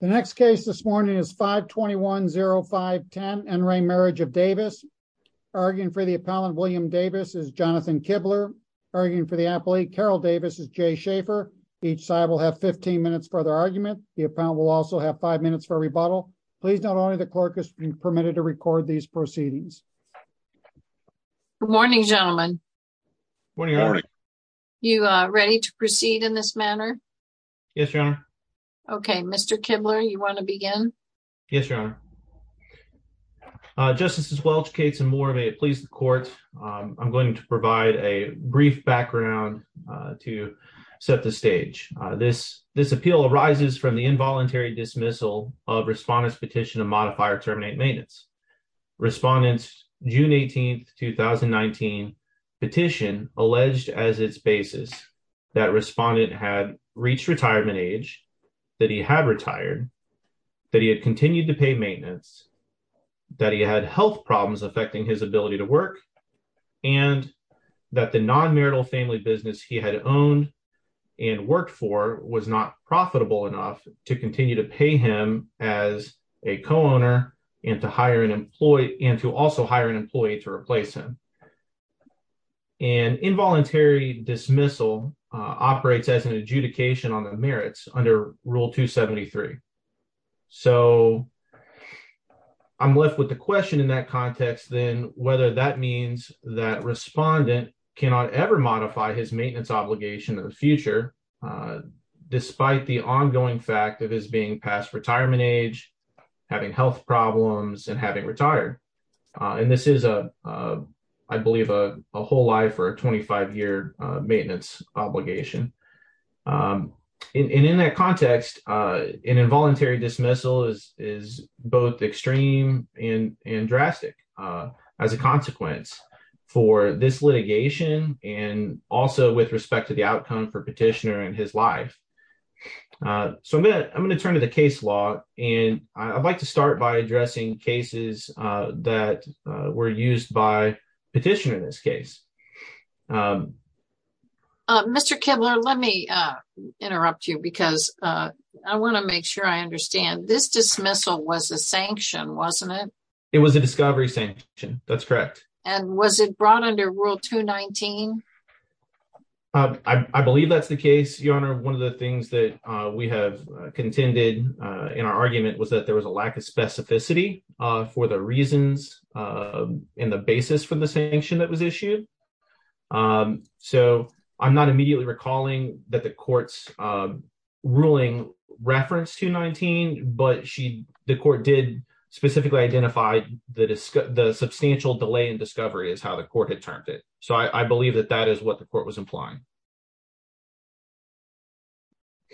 The next case this morning is 521-0510 N. Ray Marriage of Davis. Arguing for the appellant William Davis is Jonathan Kibler. Arguing for the appellate Carol Davis is Jay Schaefer. Each side will have 15 minutes for their argument. The appellant will also have five minutes for a rebuttal. Please note only the clerk has been permitted to record these proceedings. Good morning, gentlemen. You ready to proceed in this manner? Yes, your honor. Okay, Mr. Kibler, you want to begin? Yes, your honor. Justices Welch, Cates, and Moore, may it please the court, I'm going to provide a brief background to set the stage. This appeal arises from the involuntary dismissal of Respondent's Petition to Modify or Terminate Maintenance. Respondent's June 18, 2019, petition alleged as its basis that Respondent had reached retirement age, that he had retired, that he had continued to pay maintenance, that he had health problems affecting his ability to work, and that the non-marital family business he had owned and worked for was not profitable enough to continue to pay him as a co-owner and to also hire an employee to replace him. An involuntary dismissal operates as an adjudication on the merits under Rule 273. So I'm left with the question in that context then, whether that means that Respondent cannot ever modify his maintenance obligation in the future, despite the ongoing fact of his being past retirement age, having health problems, and having retired. And this is, I believe, a whole life or a 25-year maintenance obligation. And in that context, an involuntary dismissal is both extreme and drastic as a consequence for this litigation and also with respect to the outcome for Petitioner and his life. So I'm going to turn to the case law, and I'd like to start by addressing cases that were used by Petitioner in this case. Mr. Kibler, let me interrupt you because I want to make sure I understand. This dismissal was a sanction, wasn't it? It was a discovery sanction, that's correct. And was it brought under Rule 219? I believe that's the case, Your Honor. One of the things that we have contended in our argument was that there was a lack of specificity for the reasons and the basis for the sanction that was issued. So I'm not immediately recalling that the court's ruling referenced 219, but the court did specifically identify the substantial delay in discovery is how the court had termed it. So I believe that that is what the court was implying.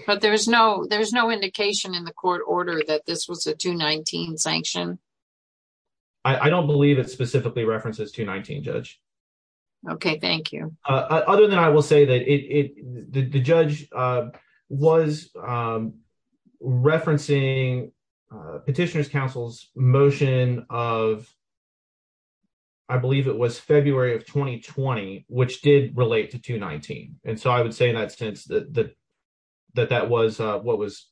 But there's no indication in the court order that this was a 219 sanction? I don't believe it specifically references 219, Judge. Okay, thank you. Other than that, I will say that the judge was referencing Petitioner's counsel's motion of, I believe it was February of 2020, which did relate to 219. And so I would say in that sense that that was what was,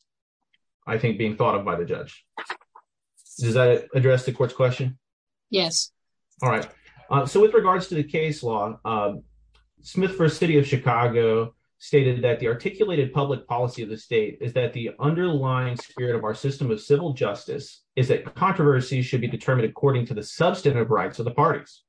I think, being thought of by the judge. Does that address the court's question? Yes. All right. So with regards to the case law, Smith v. City of Chicago stated that the articulated public policy of the state is that the underlying spirit of our system of civil justice is that controversy should be determined according to the substantive rights of the parties.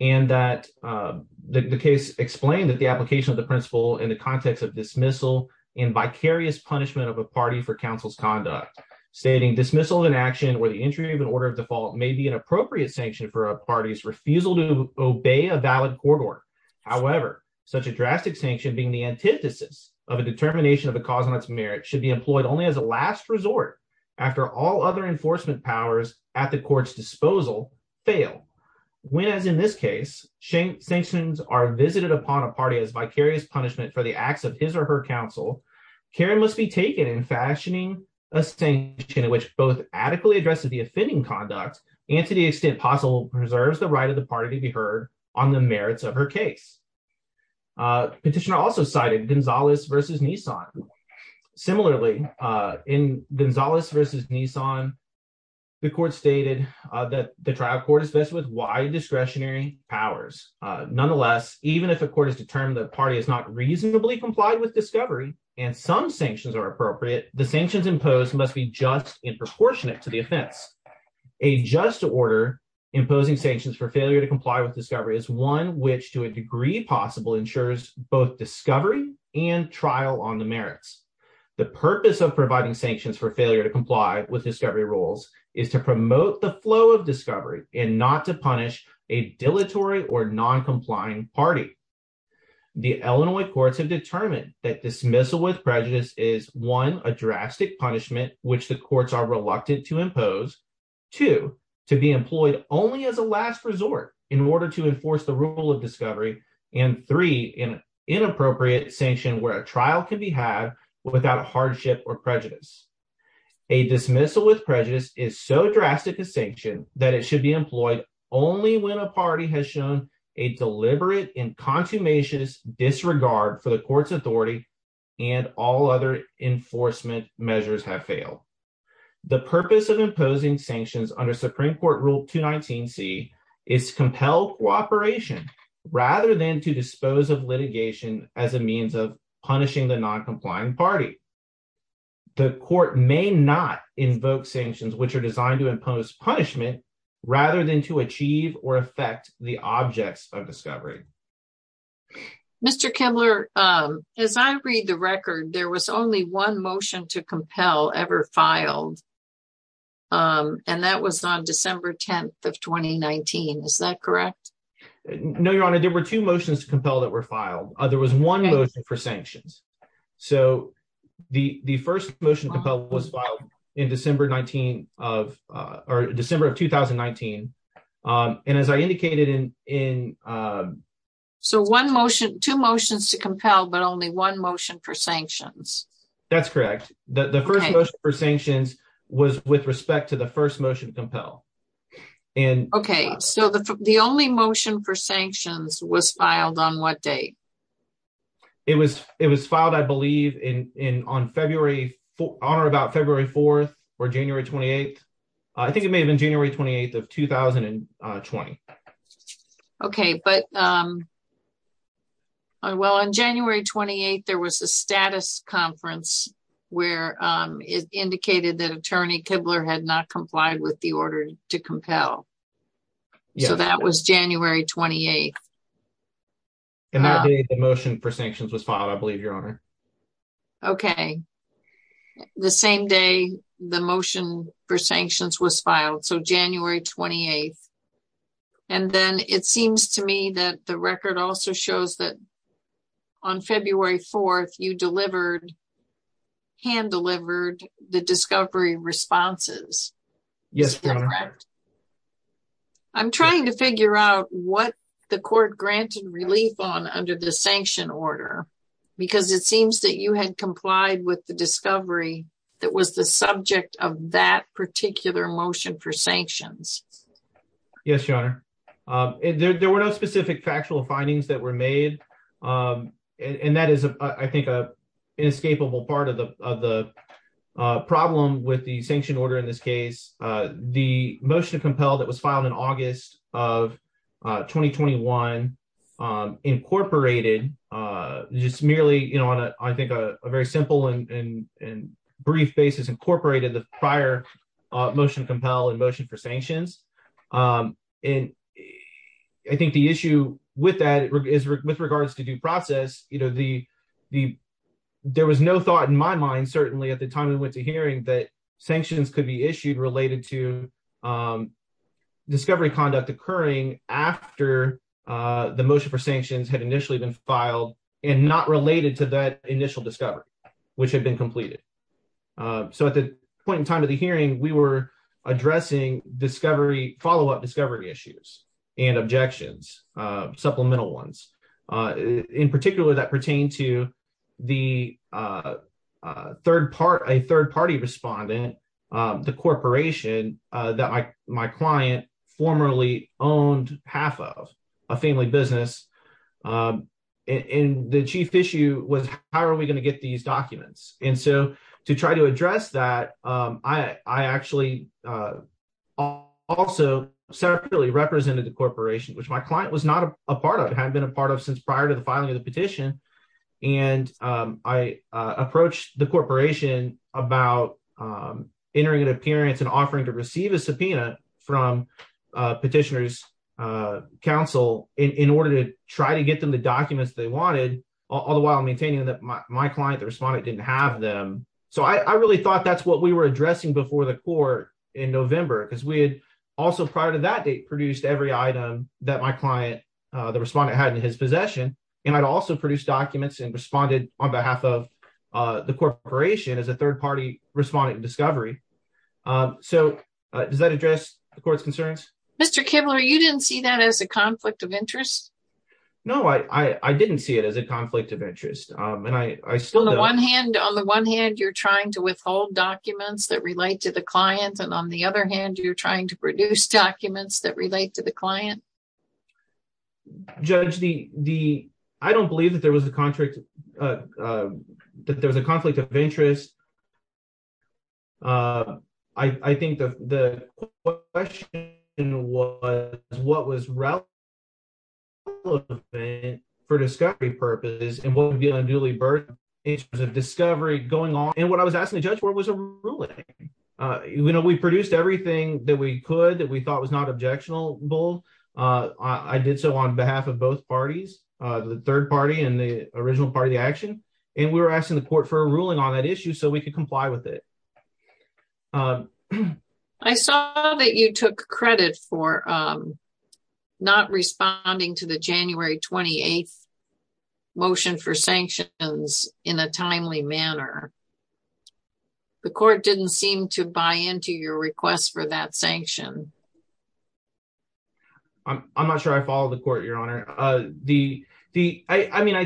And that the case explained that the application of the principle in the context of dismissal and vicarious punishment of a party for counsel's conduct, stating dismissal in action where the entry of an order of default may be an appropriate sanction for a party's refusal to obey a valid court order. However, such a drastic sanction being the antithesis of a determination of a cause on its merit should be employed only as a last resort after all other enforcement powers at the court's disposal fail. When, as in this case, sanctions are visited upon a party as vicarious punishment for the acts of his or her counsel, care must be taken in fashioning a sanction in which both adequately addresses the offending conduct and to the extent possible preserves the right of the party to be heard on the merits of her case. Petitioner also cited Gonzalez v. Nissan. Similarly, in Gonzalez v. Nissan, the court stated that the trial court is best with wide discretionary powers. Nonetheless, even if a court has determined the party is not reasonably complied with discovery and some sanctions are appropriate, the sanctions imposed must be just in proportionate to the offense. A just order imposing sanctions for failure to comply with discovery is one which, to a degree possible, ensures both discovery and trial on the merits. The purpose of providing sanctions for failure to comply with discovery rules is to promote the flow of discovery and not to punish a dilatory or non-complying party. The Illinois courts have determined that dismissal with prejudice is, one, a drastic punishment which the courts are reluctant to impose, two, to be employed only as a last resort in order to enforce the rule of discovery, and three, an inappropriate sanction where a trial can be had without hardship or prejudice. A dismissal with prejudice is so drastic a sanction that it should be employed only when a party has shown a deliberate and consummation disregard for the court's authority and all other enforcement measures have failed. The purpose of imposing sanctions under Supreme Court Rule 219C is to compel cooperation rather than to dispose of litigation as a means of punishing the non-complying party. The court may not invoke sanctions which are designed to impose punishment rather than to achieve or affect the objects of discovery. Mr. Kimbler, as I read the record, there was only one motion to compel ever filed um and that was on December 10th of 2019, is that correct? No, Your Honor, there were two motions to compel that were filed. There was one motion for sanctions. So the the first motion to compel was filed in December 19 of uh or December of 2019. Um and as I indicated in in um. So one motion, two motions to compel but only one motion for sanctions. That's correct. The first motion for sanctions was with respect to the first motion to compel. And okay so the only motion for sanctions was filed on what date? It was it was filed I believe in in on February 4th or about February 4th or January 28th. I think it may have been January 28th of 2020. Okay but um well on January 28th there was a status conference where um it indicated that Attorney Kibler had not complied with the order to compel. So that was January 28th. And that day the motion for sanctions was filed, I believe, Your Honor. Okay, the same day the motion for sanctions was filed. So January 28th. And then it seems to me that the record also shows that on February 4th you delivered, hand-delivered the discovery responses. Yes, Your Honor. I'm trying to figure out what the court granted relief on under the sanction order because it seems that you had complied with the discovery that was the subject of that particular motion for sanctions. Yes, Your Honor. There were no specific factual findings that were made. And that is, I think, an inescapable part of the problem with the sanction order in this case. The motion to compel that was filed in August of 2021 incorporated just merely, you know, on a, I think, a very simple and brief basis, incorporated the prior motion to compel and motion for sanctions. And I think the issue with that is with regards to due process, you know, there was no thought in my mind, certainly, at the time we went to hearing that sanctions could be issued related to discovery conduct occurring after the motion for sanctions had initially been filed and not related to that initial discovery, which had been completed. So at the point in time of the hearing, we were addressing discovery, follow-up discovery issues and objections, supplemental ones. In particular, that pertained to the third part, a third party respondent, the corporation that my client formerly owned half of, a family business. And the chief issue was, how are we going to get these documents? And so to try to address that, I actually also separately represented the corporation, which my client was not a part of, had been a part of since prior to the filing of the petition. And I approached the corporation about entering an appearance and offering to receive a subpoena from petitioner's counsel in order to try to get them the documents they wanted, all the while maintaining that my client, the respondent, didn't have them. So I really thought that's what we were addressing before the court in November, because we had also prior to that date produced every item that my client, the respondent, had in his possession. And I'd also produced documents and responded on behalf of the corporation as a third party respondent in discovery. So does that address the court's concerns? Mr. Kibler, you didn't see that as a conflict of interest? No, I didn't see it as a conflict of interest. On the one hand, you're trying to withhold documents that relate to the client. And on the other hand, you're trying to produce documents that relate to the client. Judge, I don't believe that there was a conflict of interest. I think the question was what was relevant for discovery purposes and what would be a newly birthed interest of discovery going on. And what I was asking the judge for was a ruling. We produced everything that we could that we thought was not objectionable. I did so on behalf of both parties, the third party and the original party of the action. And we were asking the court for a ruling on that issue so we could comply with it. I saw that you took credit for not responding to the January 28th motion for sanctions in a timely manner. The court didn't seem to buy into your request for that sanction. I'm not sure I follow the court, Your Honor. I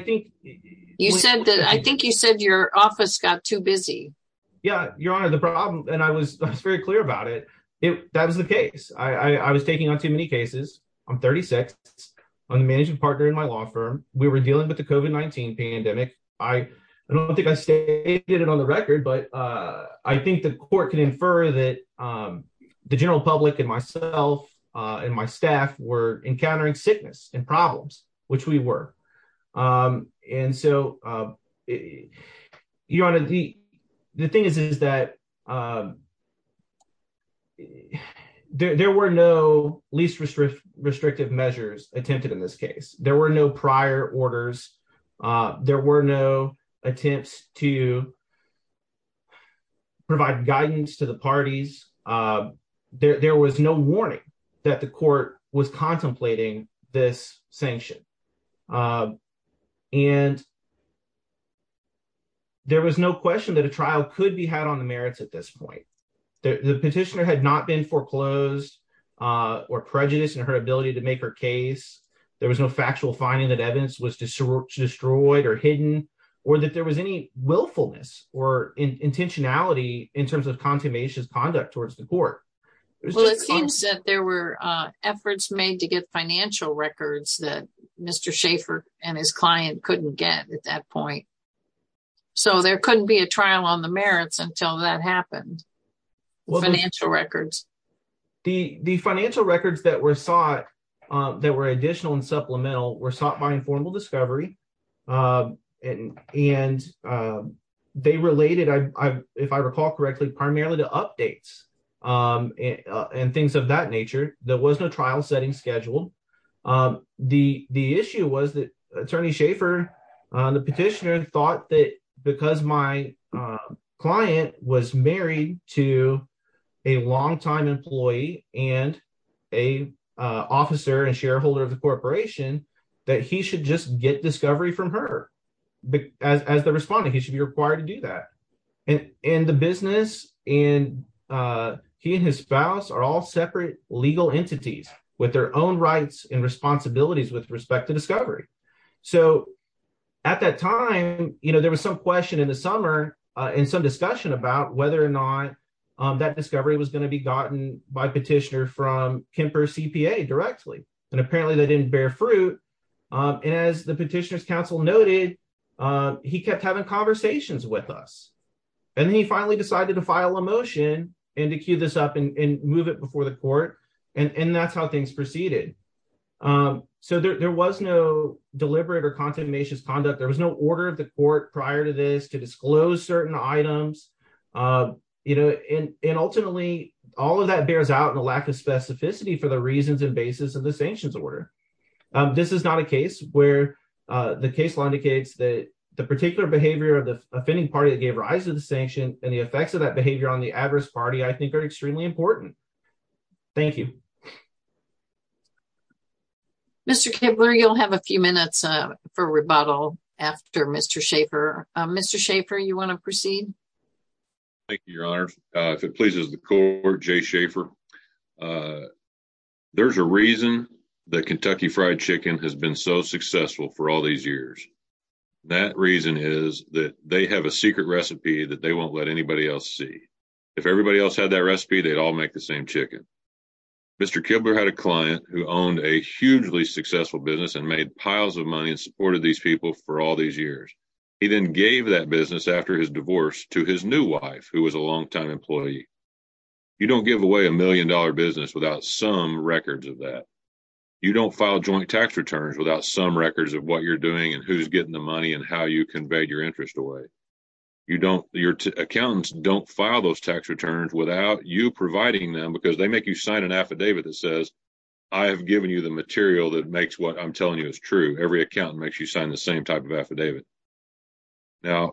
think you said your office got too busy. Yeah, Your Honor, the problem, and I was very clear about it, that was the case. I was taking on too many cases. I'm 36. I'm the management partner in my law firm. We were dealing with the COVID-19 pandemic. I don't think I stated it on the record, but I think the court can infer that the general were encountering sickness and problems, which we were. And so, Your Honor, the thing is that there were no least restrictive measures attempted in this case. There were no prior orders. There were no attempts to provide guidance to the parties. There was no warning that the court was contemplating this sanction. There was no question that a trial could be had on the merits at this point. The petitioner had not been foreclosed or prejudiced in her ability to make her case. There was no factual finding that evidence was destroyed or hidden or that there was willfulness or intentionality in terms of consummation conduct towards the court. Well, it seems that there were efforts made to get financial records that Mr. Schaffer and his client couldn't get at that point. So, there couldn't be a trial on the merits until that happened, financial records. The financial records that were sought, that were additional and supplemental, were sought by Informal Discovery. And they related, if I recall correctly, primarily to updates and things of that nature. There was no trial setting scheduled. The issue was that Attorney Schaffer, the petitioner, thought that because my client was married to a longtime employee and an officer and shareholder of the corporation, that he should just get discovery from her as the respondent. He should be required to do that. And the business and he and his spouse are all separate legal entities with their own rights and responsibilities with respect to discovery. So, at that time, there was some question in the summer and some discussion about whether or not that discovery was going to be gotten by petitioner from Kemper CPA directly. And apparently, that didn't bear fruit. And as the petitioner's counsel noted, he kept having conversations with us. And then he finally decided to file a motion and to queue this up and move it before the court. And that's how things proceeded. So, there was no deliberate or contentious conduct. There was no order of the court prior to this to disclose certain items. You know, and ultimately, all of that bears out in the lack of specificity for the reasons and basis of the sanctions order. This is not a case where the case law indicates that the particular behavior of the offending party that gave rise to the sanction and the effects of that behavior on the adverse party, I think, are extremely important. Thank you. Mr. Kibler, you'll have a few minutes for rebuttal after Mr. Schaefer. Mr. Schaefer, you want to proceed? Thank you, Your Honor. If it pleases the court, Jay Schaefer, there's a reason that Kentucky Fried Chicken has been so successful for all these years. That reason is that they have a secret recipe that they won't let anybody else see. If everybody else had that recipe, they'd all make the same chicken. Mr. Kibler had a client who owned a hugely successful business and made piles of money and supported these people for all these years. He then gave that business after his divorce to his new wife, who was a long-time employee. You don't give away a million-dollar business without some records of that. You don't file joint tax returns without some records of what you're doing and who's getting the money and how you conveyed your interest away. Your accountants don't file those tax returns without you providing them because they make you sign an affidavit that says, I have given you the material that makes what I'm telling you is true. Every accountant makes you sign the same type of affidavit. Now,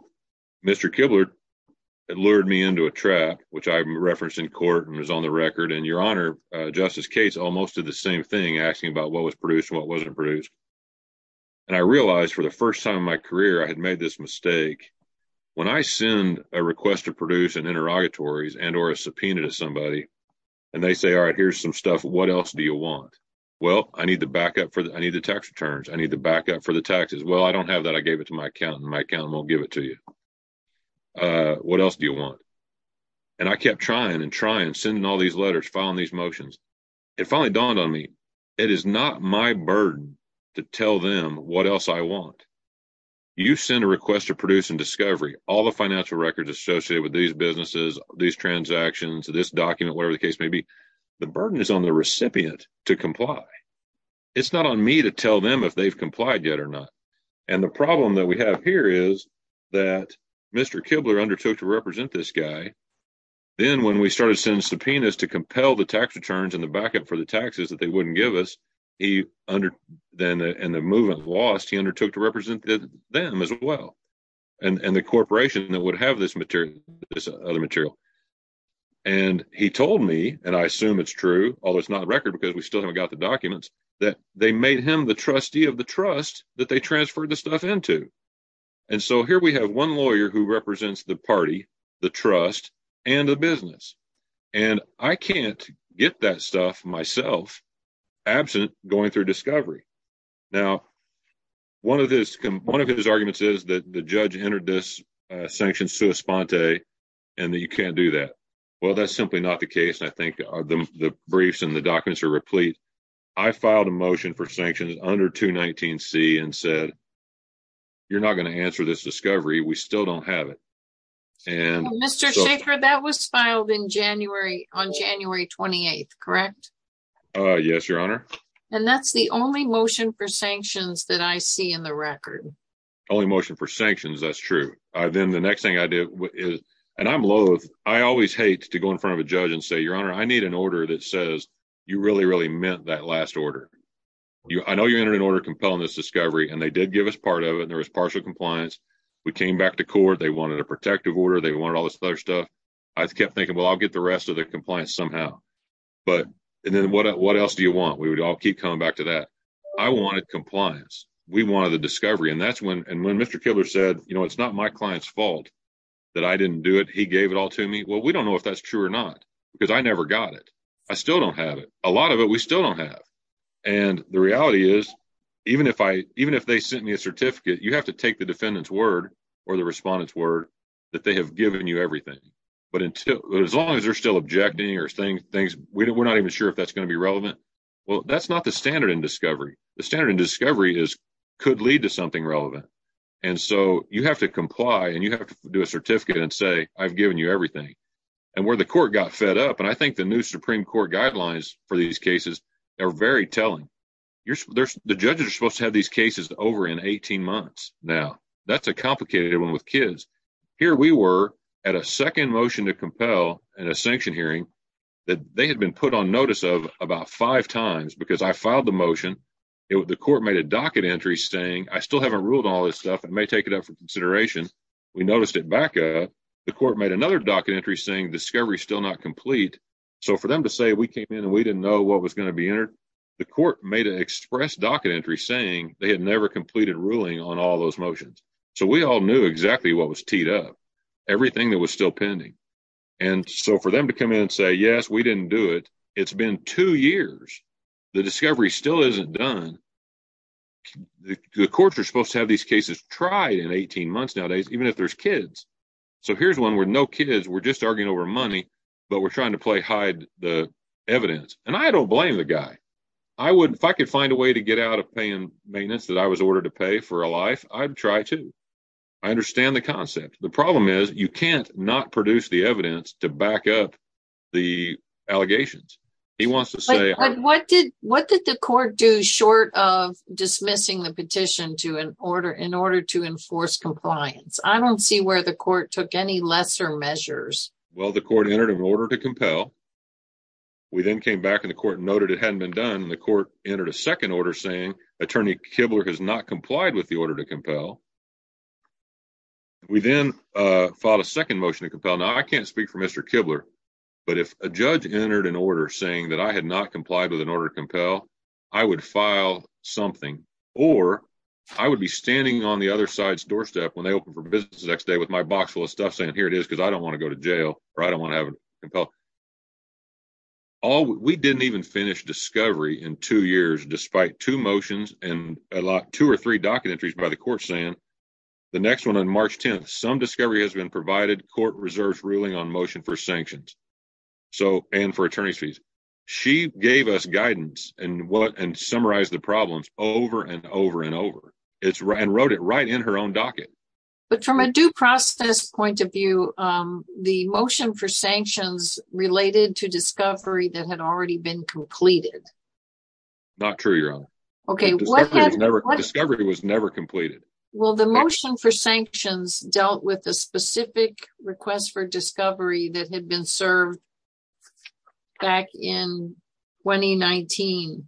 Mr. Kibler had lured me into a trap, which I referenced in court and was on the record. Your Honor, Justice Cates almost did the same thing, asking about what was produced and what wasn't produced. I realized for the first time in my career, I had made this mistake. When I send a request to produce an interrogatory and or a subpoena to somebody and they say, all right, here's some stuff, what else do you want? Well, I need the backup for the tax returns. I need the backup for the taxes. Well, I don't have that. I gave it to my accountant. My accountant won't give it to you. What else do you want? I kept trying and trying, sending all these letters, filing these motions. It finally dawned on me. It is not my burden to tell them what else I want. You send a request to produce and discovery all the financial records associated with these businesses, these transactions, this document, whatever the case may be. The burden is on the recipient to comply. It's not on me to tell them if they've complied yet or not. The problem that we have here is that Mr. Kibler undertook to represent this guy. Then when we started sending subpoenas to compel the tax returns and the backup for the taxes that they wouldn't give us and the movement was lost, he undertook to represent them as well and the corporation that would have this other material. He told me, and I assume it's true, although it's not a record because we still haven't the documents, that they made him the trustee of the trust that they transferred the stuff into. Here we have one lawyer who represents the party, the trust, and the business. I can't get that stuff myself absent going through discovery. One of his arguments is that the judge entered this sanctioned sua sponte and that you can't do that. Well, that's simply not the case. The briefs and the documents are replete. I filed a motion for sanctions under 219C and said, you're not going to answer this discovery. We still don't have it. Mr. Shaffer, that was filed on January 28th, correct? Yes, Your Honor. That's the only motion for sanctions that I see in the record. Only motion for sanctions, that's true. Then the next thing I did, and I'm loathe, I always hate to go in front of a judge and say, Your Honor, I need an order that says you really, really meant that last order. I know you entered an order compelling this discovery and they did give us part of it and there was partial compliance. We came back to court. They wanted a protective order. They wanted all this other stuff. I kept thinking, well, I'll get the rest of the compliance somehow. And then what else do you want? We would all keep coming back to that. I wanted compliance. We wanted the discovery. And when Mr. Kiddler said, you know, it's not my client's fault that I didn't do it. He gave it all to me. Well, we don't know if that's true or not because I never got it. I still don't have it. A lot of it we still don't have. And the reality is, even if they sent me a certificate, you have to take the defendant's word or the respondent's word that they have given you everything. But as long as they're still objecting or saying things, we're not even sure if that's going to be relevant. Well, that's not the standard in discovery. The standard in discovery is could lead to something relevant. And so you have to comply and you have to do a certificate and say, I've given you everything. And where the court got fed up, and I think the new Supreme Court guidelines for these cases are very telling. The judges are supposed to have these cases over in 18 months. Now, that's a complicated one with kids. Here we were at a second motion to compel in a sanction hearing that they had been put on notice of about five times because I filed the motion. The court made a docket entry saying I still haven't ruled all this stuff. It may take it up for consideration. We noticed it back up. The court made another docket entry saying discovery still not complete. So for them to say we came in and we didn't know what was going to be entered. The court made an express docket entry saying they had never completed ruling on all those motions. So we all knew exactly what was teed up, everything that was still pending. And so for them to come in and say, yes, we didn't do it. It's been two years. The discovery still isn't done. The courts are supposed to have these cases tried in 18 months nowadays, even if there's kids. So here's one with no kids. We're just arguing over money, but we're trying to play hide the evidence. And I don't blame the guy. If I could find a way to get out of paying maintenance that I was ordered to pay for a life, I'd try to. I understand the concept. The problem is you can't not produce the evidence to back up the allegations. He wants to say what did what did the court do short of dismissing the petition to an order in order to enforce compliance? I don't see where the court took any lesser measures. Well, the court entered an order to compel. We then came back in the court, noted it hadn't been done. The court entered a second order saying Attorney Kibler has not complied with the order to compel. We then filed a second motion to compel. I can't speak for Mr. Kibler, but if a judge entered an order saying that I had not complied with an order to compel, I would file something or I would be standing on the other side's doorstep when they open for business the next day with my box full of stuff saying here it is because I don't want to go to jail or I don't want to have a compel. We didn't even finish discovery in two years, despite two motions and a lot two or three docket entries by the court saying the next one on March 10th, some discovery has been provided court reserves ruling on motion for sanctions and for attorney's fees. She gave us guidance and summarized the problems over and over and over and wrote it right in her own docket. But from a due process point of view, the motion for sanctions related to discovery that had already been completed. Not true, Your Honor. Discovery was never completed. Well, the motion for sanctions dealt with a specific request for discovery that had been served back in 2019.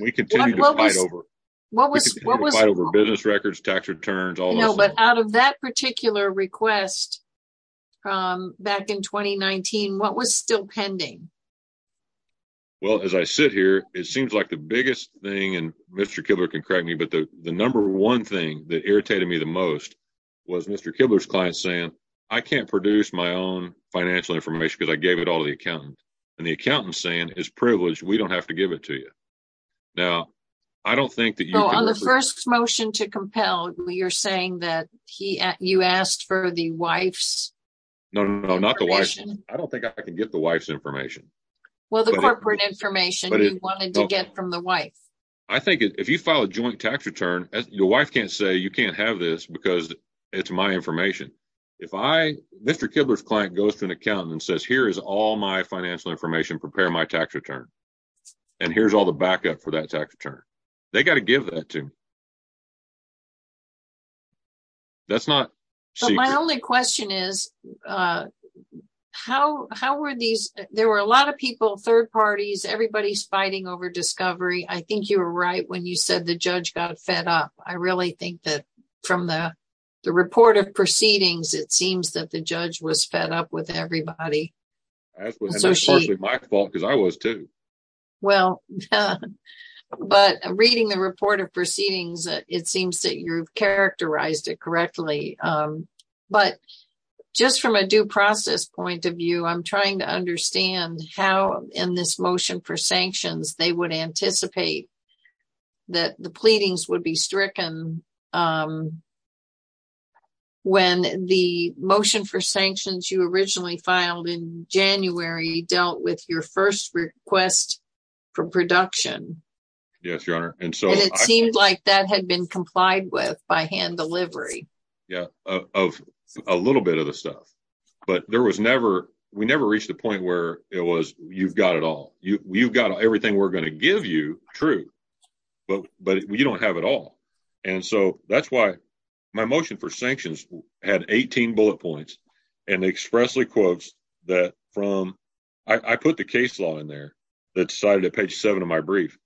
We continue to fight over business records, tax returns, all that stuff. No, but out of that particular request back in 2019, what was still pending? Well, as I sit here, it seems like the biggest thing, and Mr. that irritated me the most was Mr. Kibler's client saying I can't produce my own financial information because I gave it all to the accountant and the accountant saying is privileged. We don't have to give it to you. Now, I don't think that on the first motion to compel, you're saying that he you asked for the wife's no, no, not the wife. I don't think I can get the wife's information. Well, the corporate information you wanted to get from the wife, I think if you file a joint tax return, your wife can't say you can't have this because it's my information. If I Mr. Kibler's client goes to an accountant and says, here is all my financial information, prepare my tax return. And here's all the backup for that tax return. They got to give that to. That's not my only question is how how are these? There were a lot of people, third parties, everybody's fighting over discovery. I think you were right when you said the judge got fed up. I really think that from the the report of proceedings, it seems that the judge was fed up with everybody. That was my fault because I was too. Well, but reading the report of proceedings, it seems that you've characterized it correctly. But just from a due process point of view, I'm trying to understand how in this motion for sanctions, they would anticipate that the pleadings would be stricken when the motion for sanctions you originally filed in January dealt with your first request for production. Yes, your honor. And so it seemed like that had been complied with by hand delivery. Yeah, of a little bit of the stuff. But there was never we never reached the point where it was. You've got it all. You've got everything we're going to give you true, but but you don't have it all. And so that's why my motion for sanctions had 18 bullet points and expressly quotes that from I put the case law in there that decided to page seven of my brief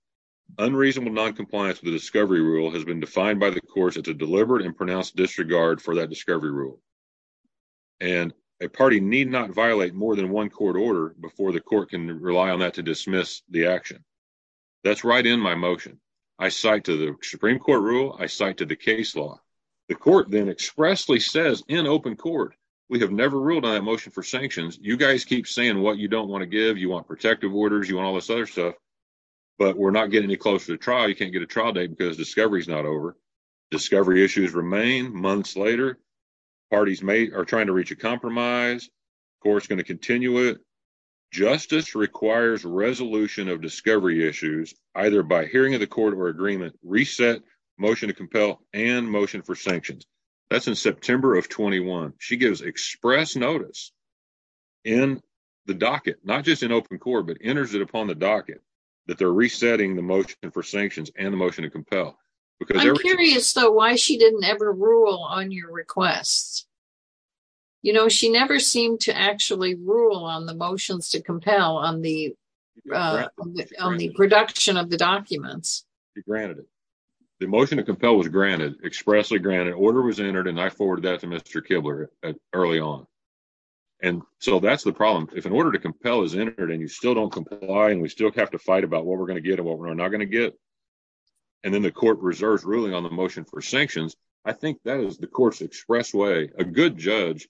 unreasonable noncompliance with the discovery rule has been defined by the courts. It's a deliberate and pronounced disregard for that discovery rule. And a party need not violate more than one court order before the court can rely on that to dismiss the action. That's right in my motion. I cite to the Supreme Court rule. I cite to the case law. The court then expressly says in open court, we have never ruled on a motion for sanctions. You guys keep saying what you don't want to give. You want protective orders. You want all this other stuff. But we're not getting any closer to trial. You can't get a trial date because discovery is not over. Discovery issues remain months later. Parties may are trying to reach a compromise. Of course, going to continue it. Justice requires resolution of discovery issues, either by hearing of the court or agreement, reset motion to compel and motion for sanctions. That's in September of 21. She gives express notice in the docket, not just in open court, but enters it upon the docket that they're resetting the motion for sanctions and the motion to compel. Because I'm curious, though, why she didn't ever rule on your requests. You know, she never seemed to actually rule on the motions to compel on the production of the documents. She granted it. The motion to compel was granted, expressly granted. Order was entered, and I forwarded that to Mr. Kibler early on. And so that's the problem. If an order to compel is entered and you still don't comply and we still have to fight about what we're going to get and what we're not going to get. And then the court reserves ruling on the motion for sanctions. I think that is the court's express way. A good judge,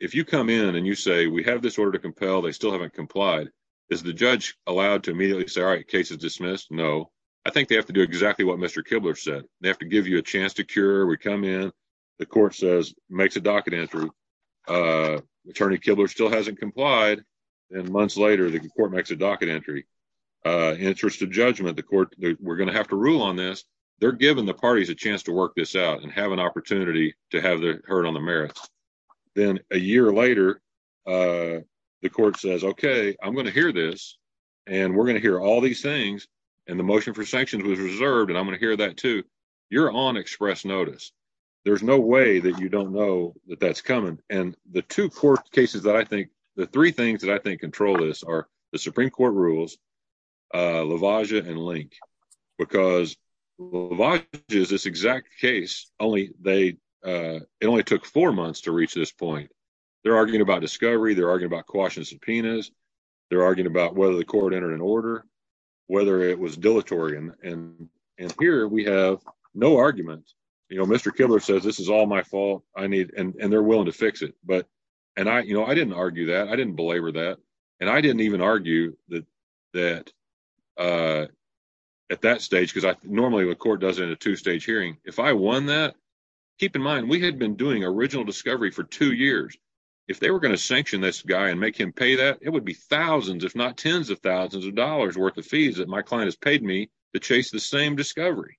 if you come in and you say, we have this order to compel. They still haven't complied. Is the judge allowed to immediately say, all right, case is dismissed? No. I think they have to do exactly what Mr. Kibler said. They have to give you a chance to cure. We come in. The court says, makes a docket entry. Attorney Kibler still hasn't complied. And months later, the court makes a docket entry. Interest of judgment. The court, we're going to have to rule on this. They're giving the parties a chance to work this out and have an opportunity to have their heard on the merits. Then a year later, the court says, OK, I'm going to hear this and we're going to hear all these things. And the motion for sanctions was reserved. And I'm going to hear that, too. You're on express notice. There's no way that you don't know that that's coming. And the two court cases that I think the three things that I think control this are the Supreme Court rules, LaVagia and Link, because LaVagia is this exact case. Only they it only took four months to reach this point. They're arguing about discovery. They're arguing about caution subpoenas. They're arguing about whether the court entered an order, whether it was dilatory. And here we have no argument. You know, Mr. Kibler says this is all my fault. I need and they're willing to fix it. But and I, you know, I didn't argue that. I didn't belabor that. And I didn't even argue that that at that stage, because normally the court does it in a two stage hearing. If I won that, keep in mind, we had been doing original discovery for two years. If they were going to sanction this guy and make him pay that, it would be thousands, if not tens of thousands of dollars worth of fees that my client has paid me to chase the same discovery.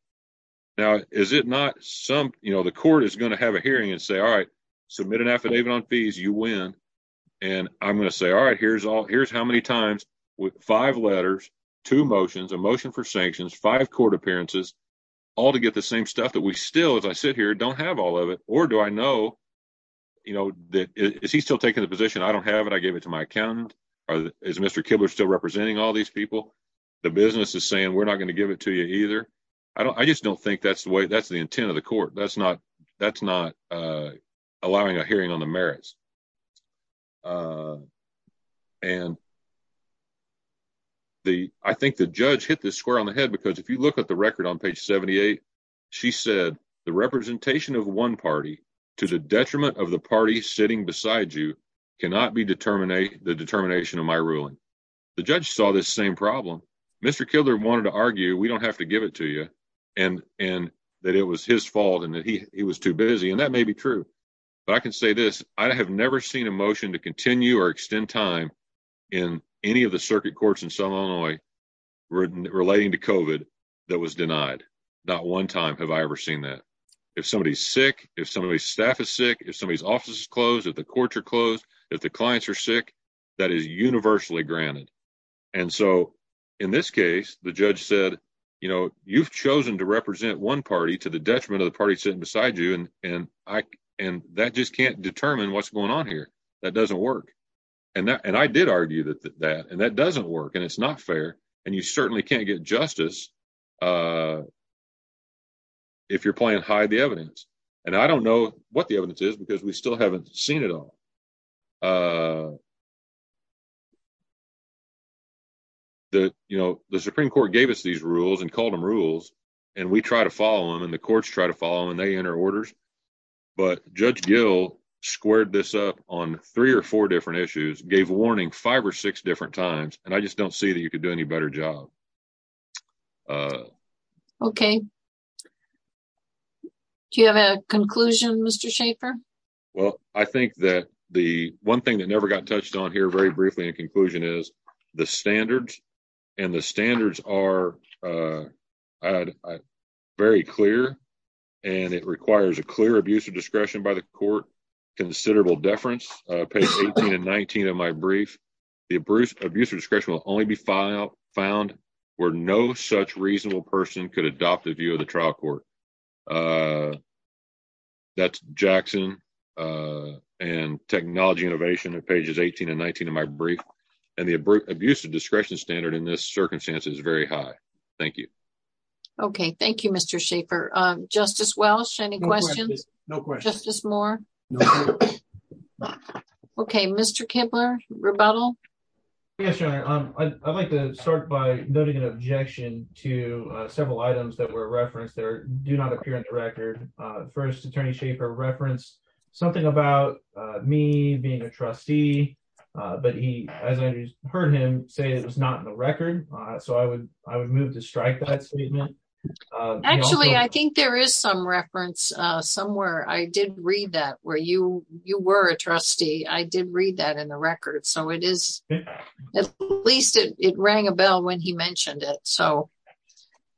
Now, is it not some, you know, the court is going to have a hearing and say, all right, submit an affidavit on fees. You win. And I'm going to say, all right, here's all here's how many times with five letters, two motions, a motion for sanctions, five court appearances, all to get the same stuff that we still, as I sit here, don't have all of it. Or do I know, you know, that is he still taking the position? I don't have it. I gave it to my accountant. Is Mr. Kibler still representing all these people? The business is saying we're not going to give it to you either. I don't I just don't think that's the way that's the intent of the court. That's not that's not allowing a hearing on the merits. Uh, and. The I think the judge hit this square on the head, because if you look at the record on page 78, she said the representation of one party to the detriment of the party sitting beside you cannot be determined a the determination of my ruling. The judge saw this same problem. Mr. Kildare wanted to argue. We don't have to give it to you. And and that it was his fault and that he was too busy. And that may be true. But I can say this. I have never seen a motion to continue or extend time in any of the circuit courts in some Illinois relating to COVID that was denied. Not one time have I ever seen that. If somebody's sick, if somebody's staff is sick, if somebody's office is closed, if the courts are closed, if the clients are sick, that is universally granted. And so in this case, the judge said, you know, you've chosen to represent one party to the detriment of the party sitting beside you. And I and that just can't determine what's going on here. That doesn't work. And I did argue that that and that doesn't work. And it's not fair. And you certainly can't get justice. If you're playing hide the evidence, and I don't know what the evidence is, because we still haven't seen it all. The you know, the Supreme Court gave us these rules and called them rules, and we try to follow them and the courts try to follow and they enter orders. But Judge Gill squared this up on three or four different issues gave a warning five or six different times. And I just don't see that you could do any better job. Okay. Do you have a conclusion, Mr. Shaffer? Well, I think that the one thing that never got touched on here very briefly in conclusion is the standards and the standards are very clear. And it requires a clear abuse of discretion by the court considerable deference page 18 and 19 of my brief. The abuse of use of discretion will only be filed found where no such reasonable person could adopt a view of the trial court. That's Jackson and technology innovation pages 18 and 19 of my brief. Abuse of discretion standard in this circumstance is very high. Thank you. Okay, thank you, Mr. Shaffer. Justice Welch, any questions? No questions. Justice Moore. Okay, Mr. Kibler rebuttal. Yes, I'd like to start by noting an objection to several items that were referenced there do not appear on the record. First, Attorney Shaffer referenced something about me being a trustee. But he, as I heard him say it was not in the record. So I would, I would move to strike that statement. Actually, I think there is some reference somewhere I did read that where you you were a trustee, I did read that in the record. So it is at least it rang a bell when he mentioned it. So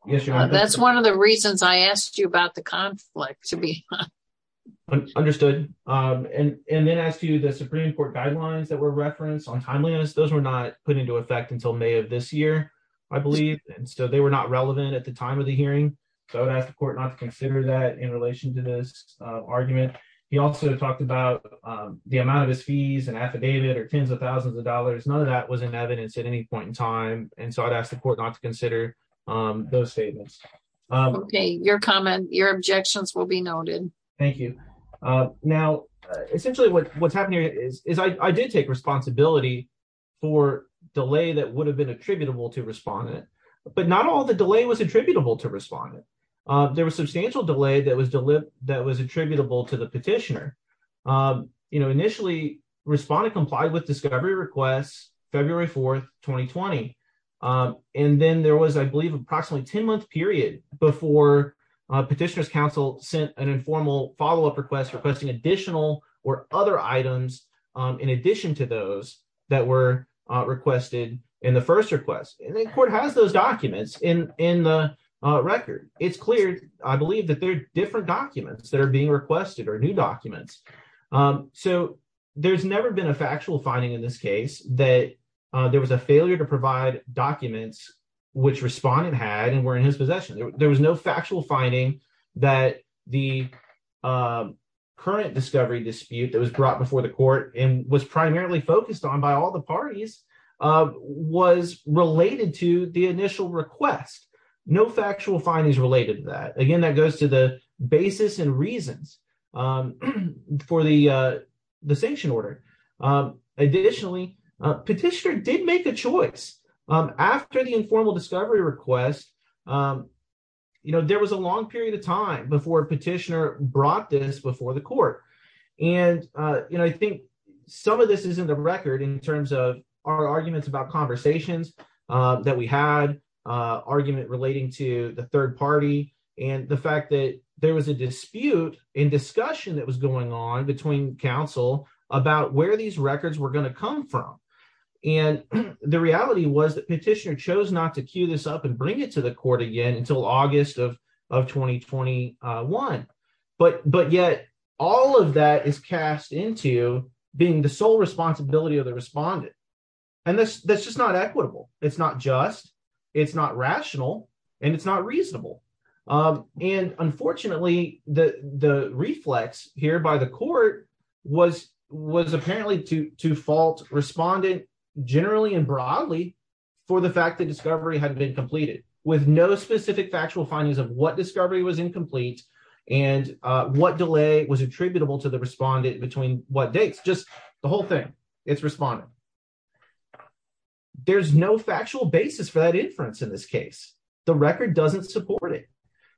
that's one of the reasons I asked you about the conflict to be understood. And then as to the Supreme Court guidelines that were referenced on timeliness, those were not put into effect until May of this year, I believe. And so they were not relevant at the time of the hearing. So I would ask the court not to consider that in relation to this argument. He also talked about the amount of his fees and affidavit or 10s of 1000s of dollars. None of that was in evidence at any point in time. And so I'd ask the court not to consider those statements. Okay, your comment, your objections will be noted. Thank you. Now, essentially, what's happening is I did take responsibility for delay that would have been attributable to respondent. But not all the delay was attributable to respondent. There was substantial delay that was that was attributable to the petitioner. You know, initially, respondent complied with discovery requests, February 4th, 2020. And then there was, I believe, approximately 10 month period before petitioner's counsel sent an informal follow up request requesting additional or other items in addition to those that were requested in the first request. And then court has those documents in the record. It's clear, I believe that there are different documents that are being requested or new documents. So there's never been a factual finding in this case that there was a failure to provide documents which respondent had and were in his possession. There was no factual finding that the current discovery dispute that was brought before the court and was primarily focused on by all the parties was related to the initial request. No factual findings related to that. Again, that goes to the basis and reasons for the the sanction order. Additionally, petitioner did make a choice. After the informal discovery request, you know, there was a long period of time before petitioner brought this before the court. And, you know, I think some of this is in the record in terms of our arguments about conversations that we had, argument relating to the third party, and the fact that there was a dispute in discussion that was going on between counsel about where these records were going to come from. And the reality was that petitioner chose not to queue this up and bring it to the court again until August of 2021. But yet, all of that is cast into being the sole responsibility of the respondent. And that's just not equitable. It's not just, it's not rational, and it's not reasonable. And unfortunately, the reflex here by the court was apparently to fault respondent generally and broadly for the fact that discovery had been completed with no specific factual findings of what discovery was incomplete and what delay was attributable to the respondent between what dates. Just the whole thing. It's respondent. There's no factual basis for that inference in this case. The record doesn't support it.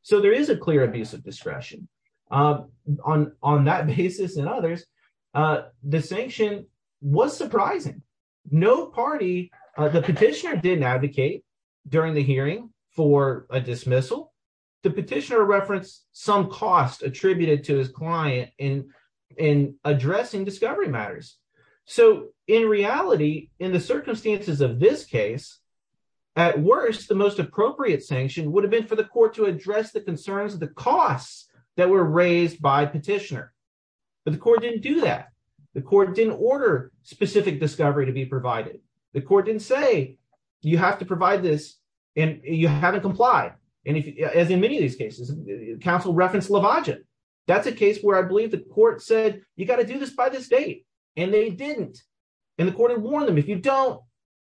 So there is a clear abuse of discretion on that basis and others. The sanction was surprising. No party, the petitioner didn't advocate during the hearing for a dismissal. The petitioner referenced some cost attributed to his client in addressing discovery matters. So in reality, in the circumstances of this case, at worst, the most appropriate sanction would have been for the court to address the concerns of the costs that were raised by petitioner. But the court didn't do that. The court didn't order specific discovery to be provided. The court didn't say, you have to provide this and you haven't complied. And as in many of these cases, counsel referenced Lovagen. That's a case where I believe the court said, you got to do this by this date. And they didn't. And the court had warned them, if you don't,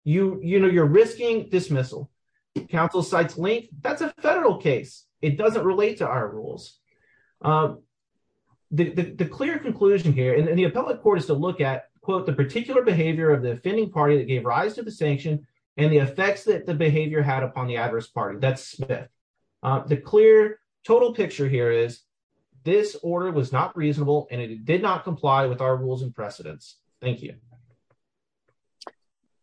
you're risking dismissal. Counsel cites link. That's a federal case. It doesn't relate to our rules. The clear conclusion here, and the appellate court is to look at, quote, the particular behavior of the offending party that gave rise to the sanction and the effects that the behavior had upon the adverse party. That's Smith. The clear total picture here is this order was not reasonable and it did not comply with our rules and precedents. Thank you.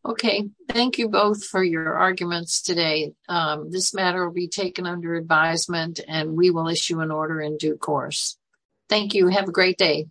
Okay. Thank you both for your arguments today. This matter will be taken under advisement and we will issue an order in due course. Thank you. Have a great day.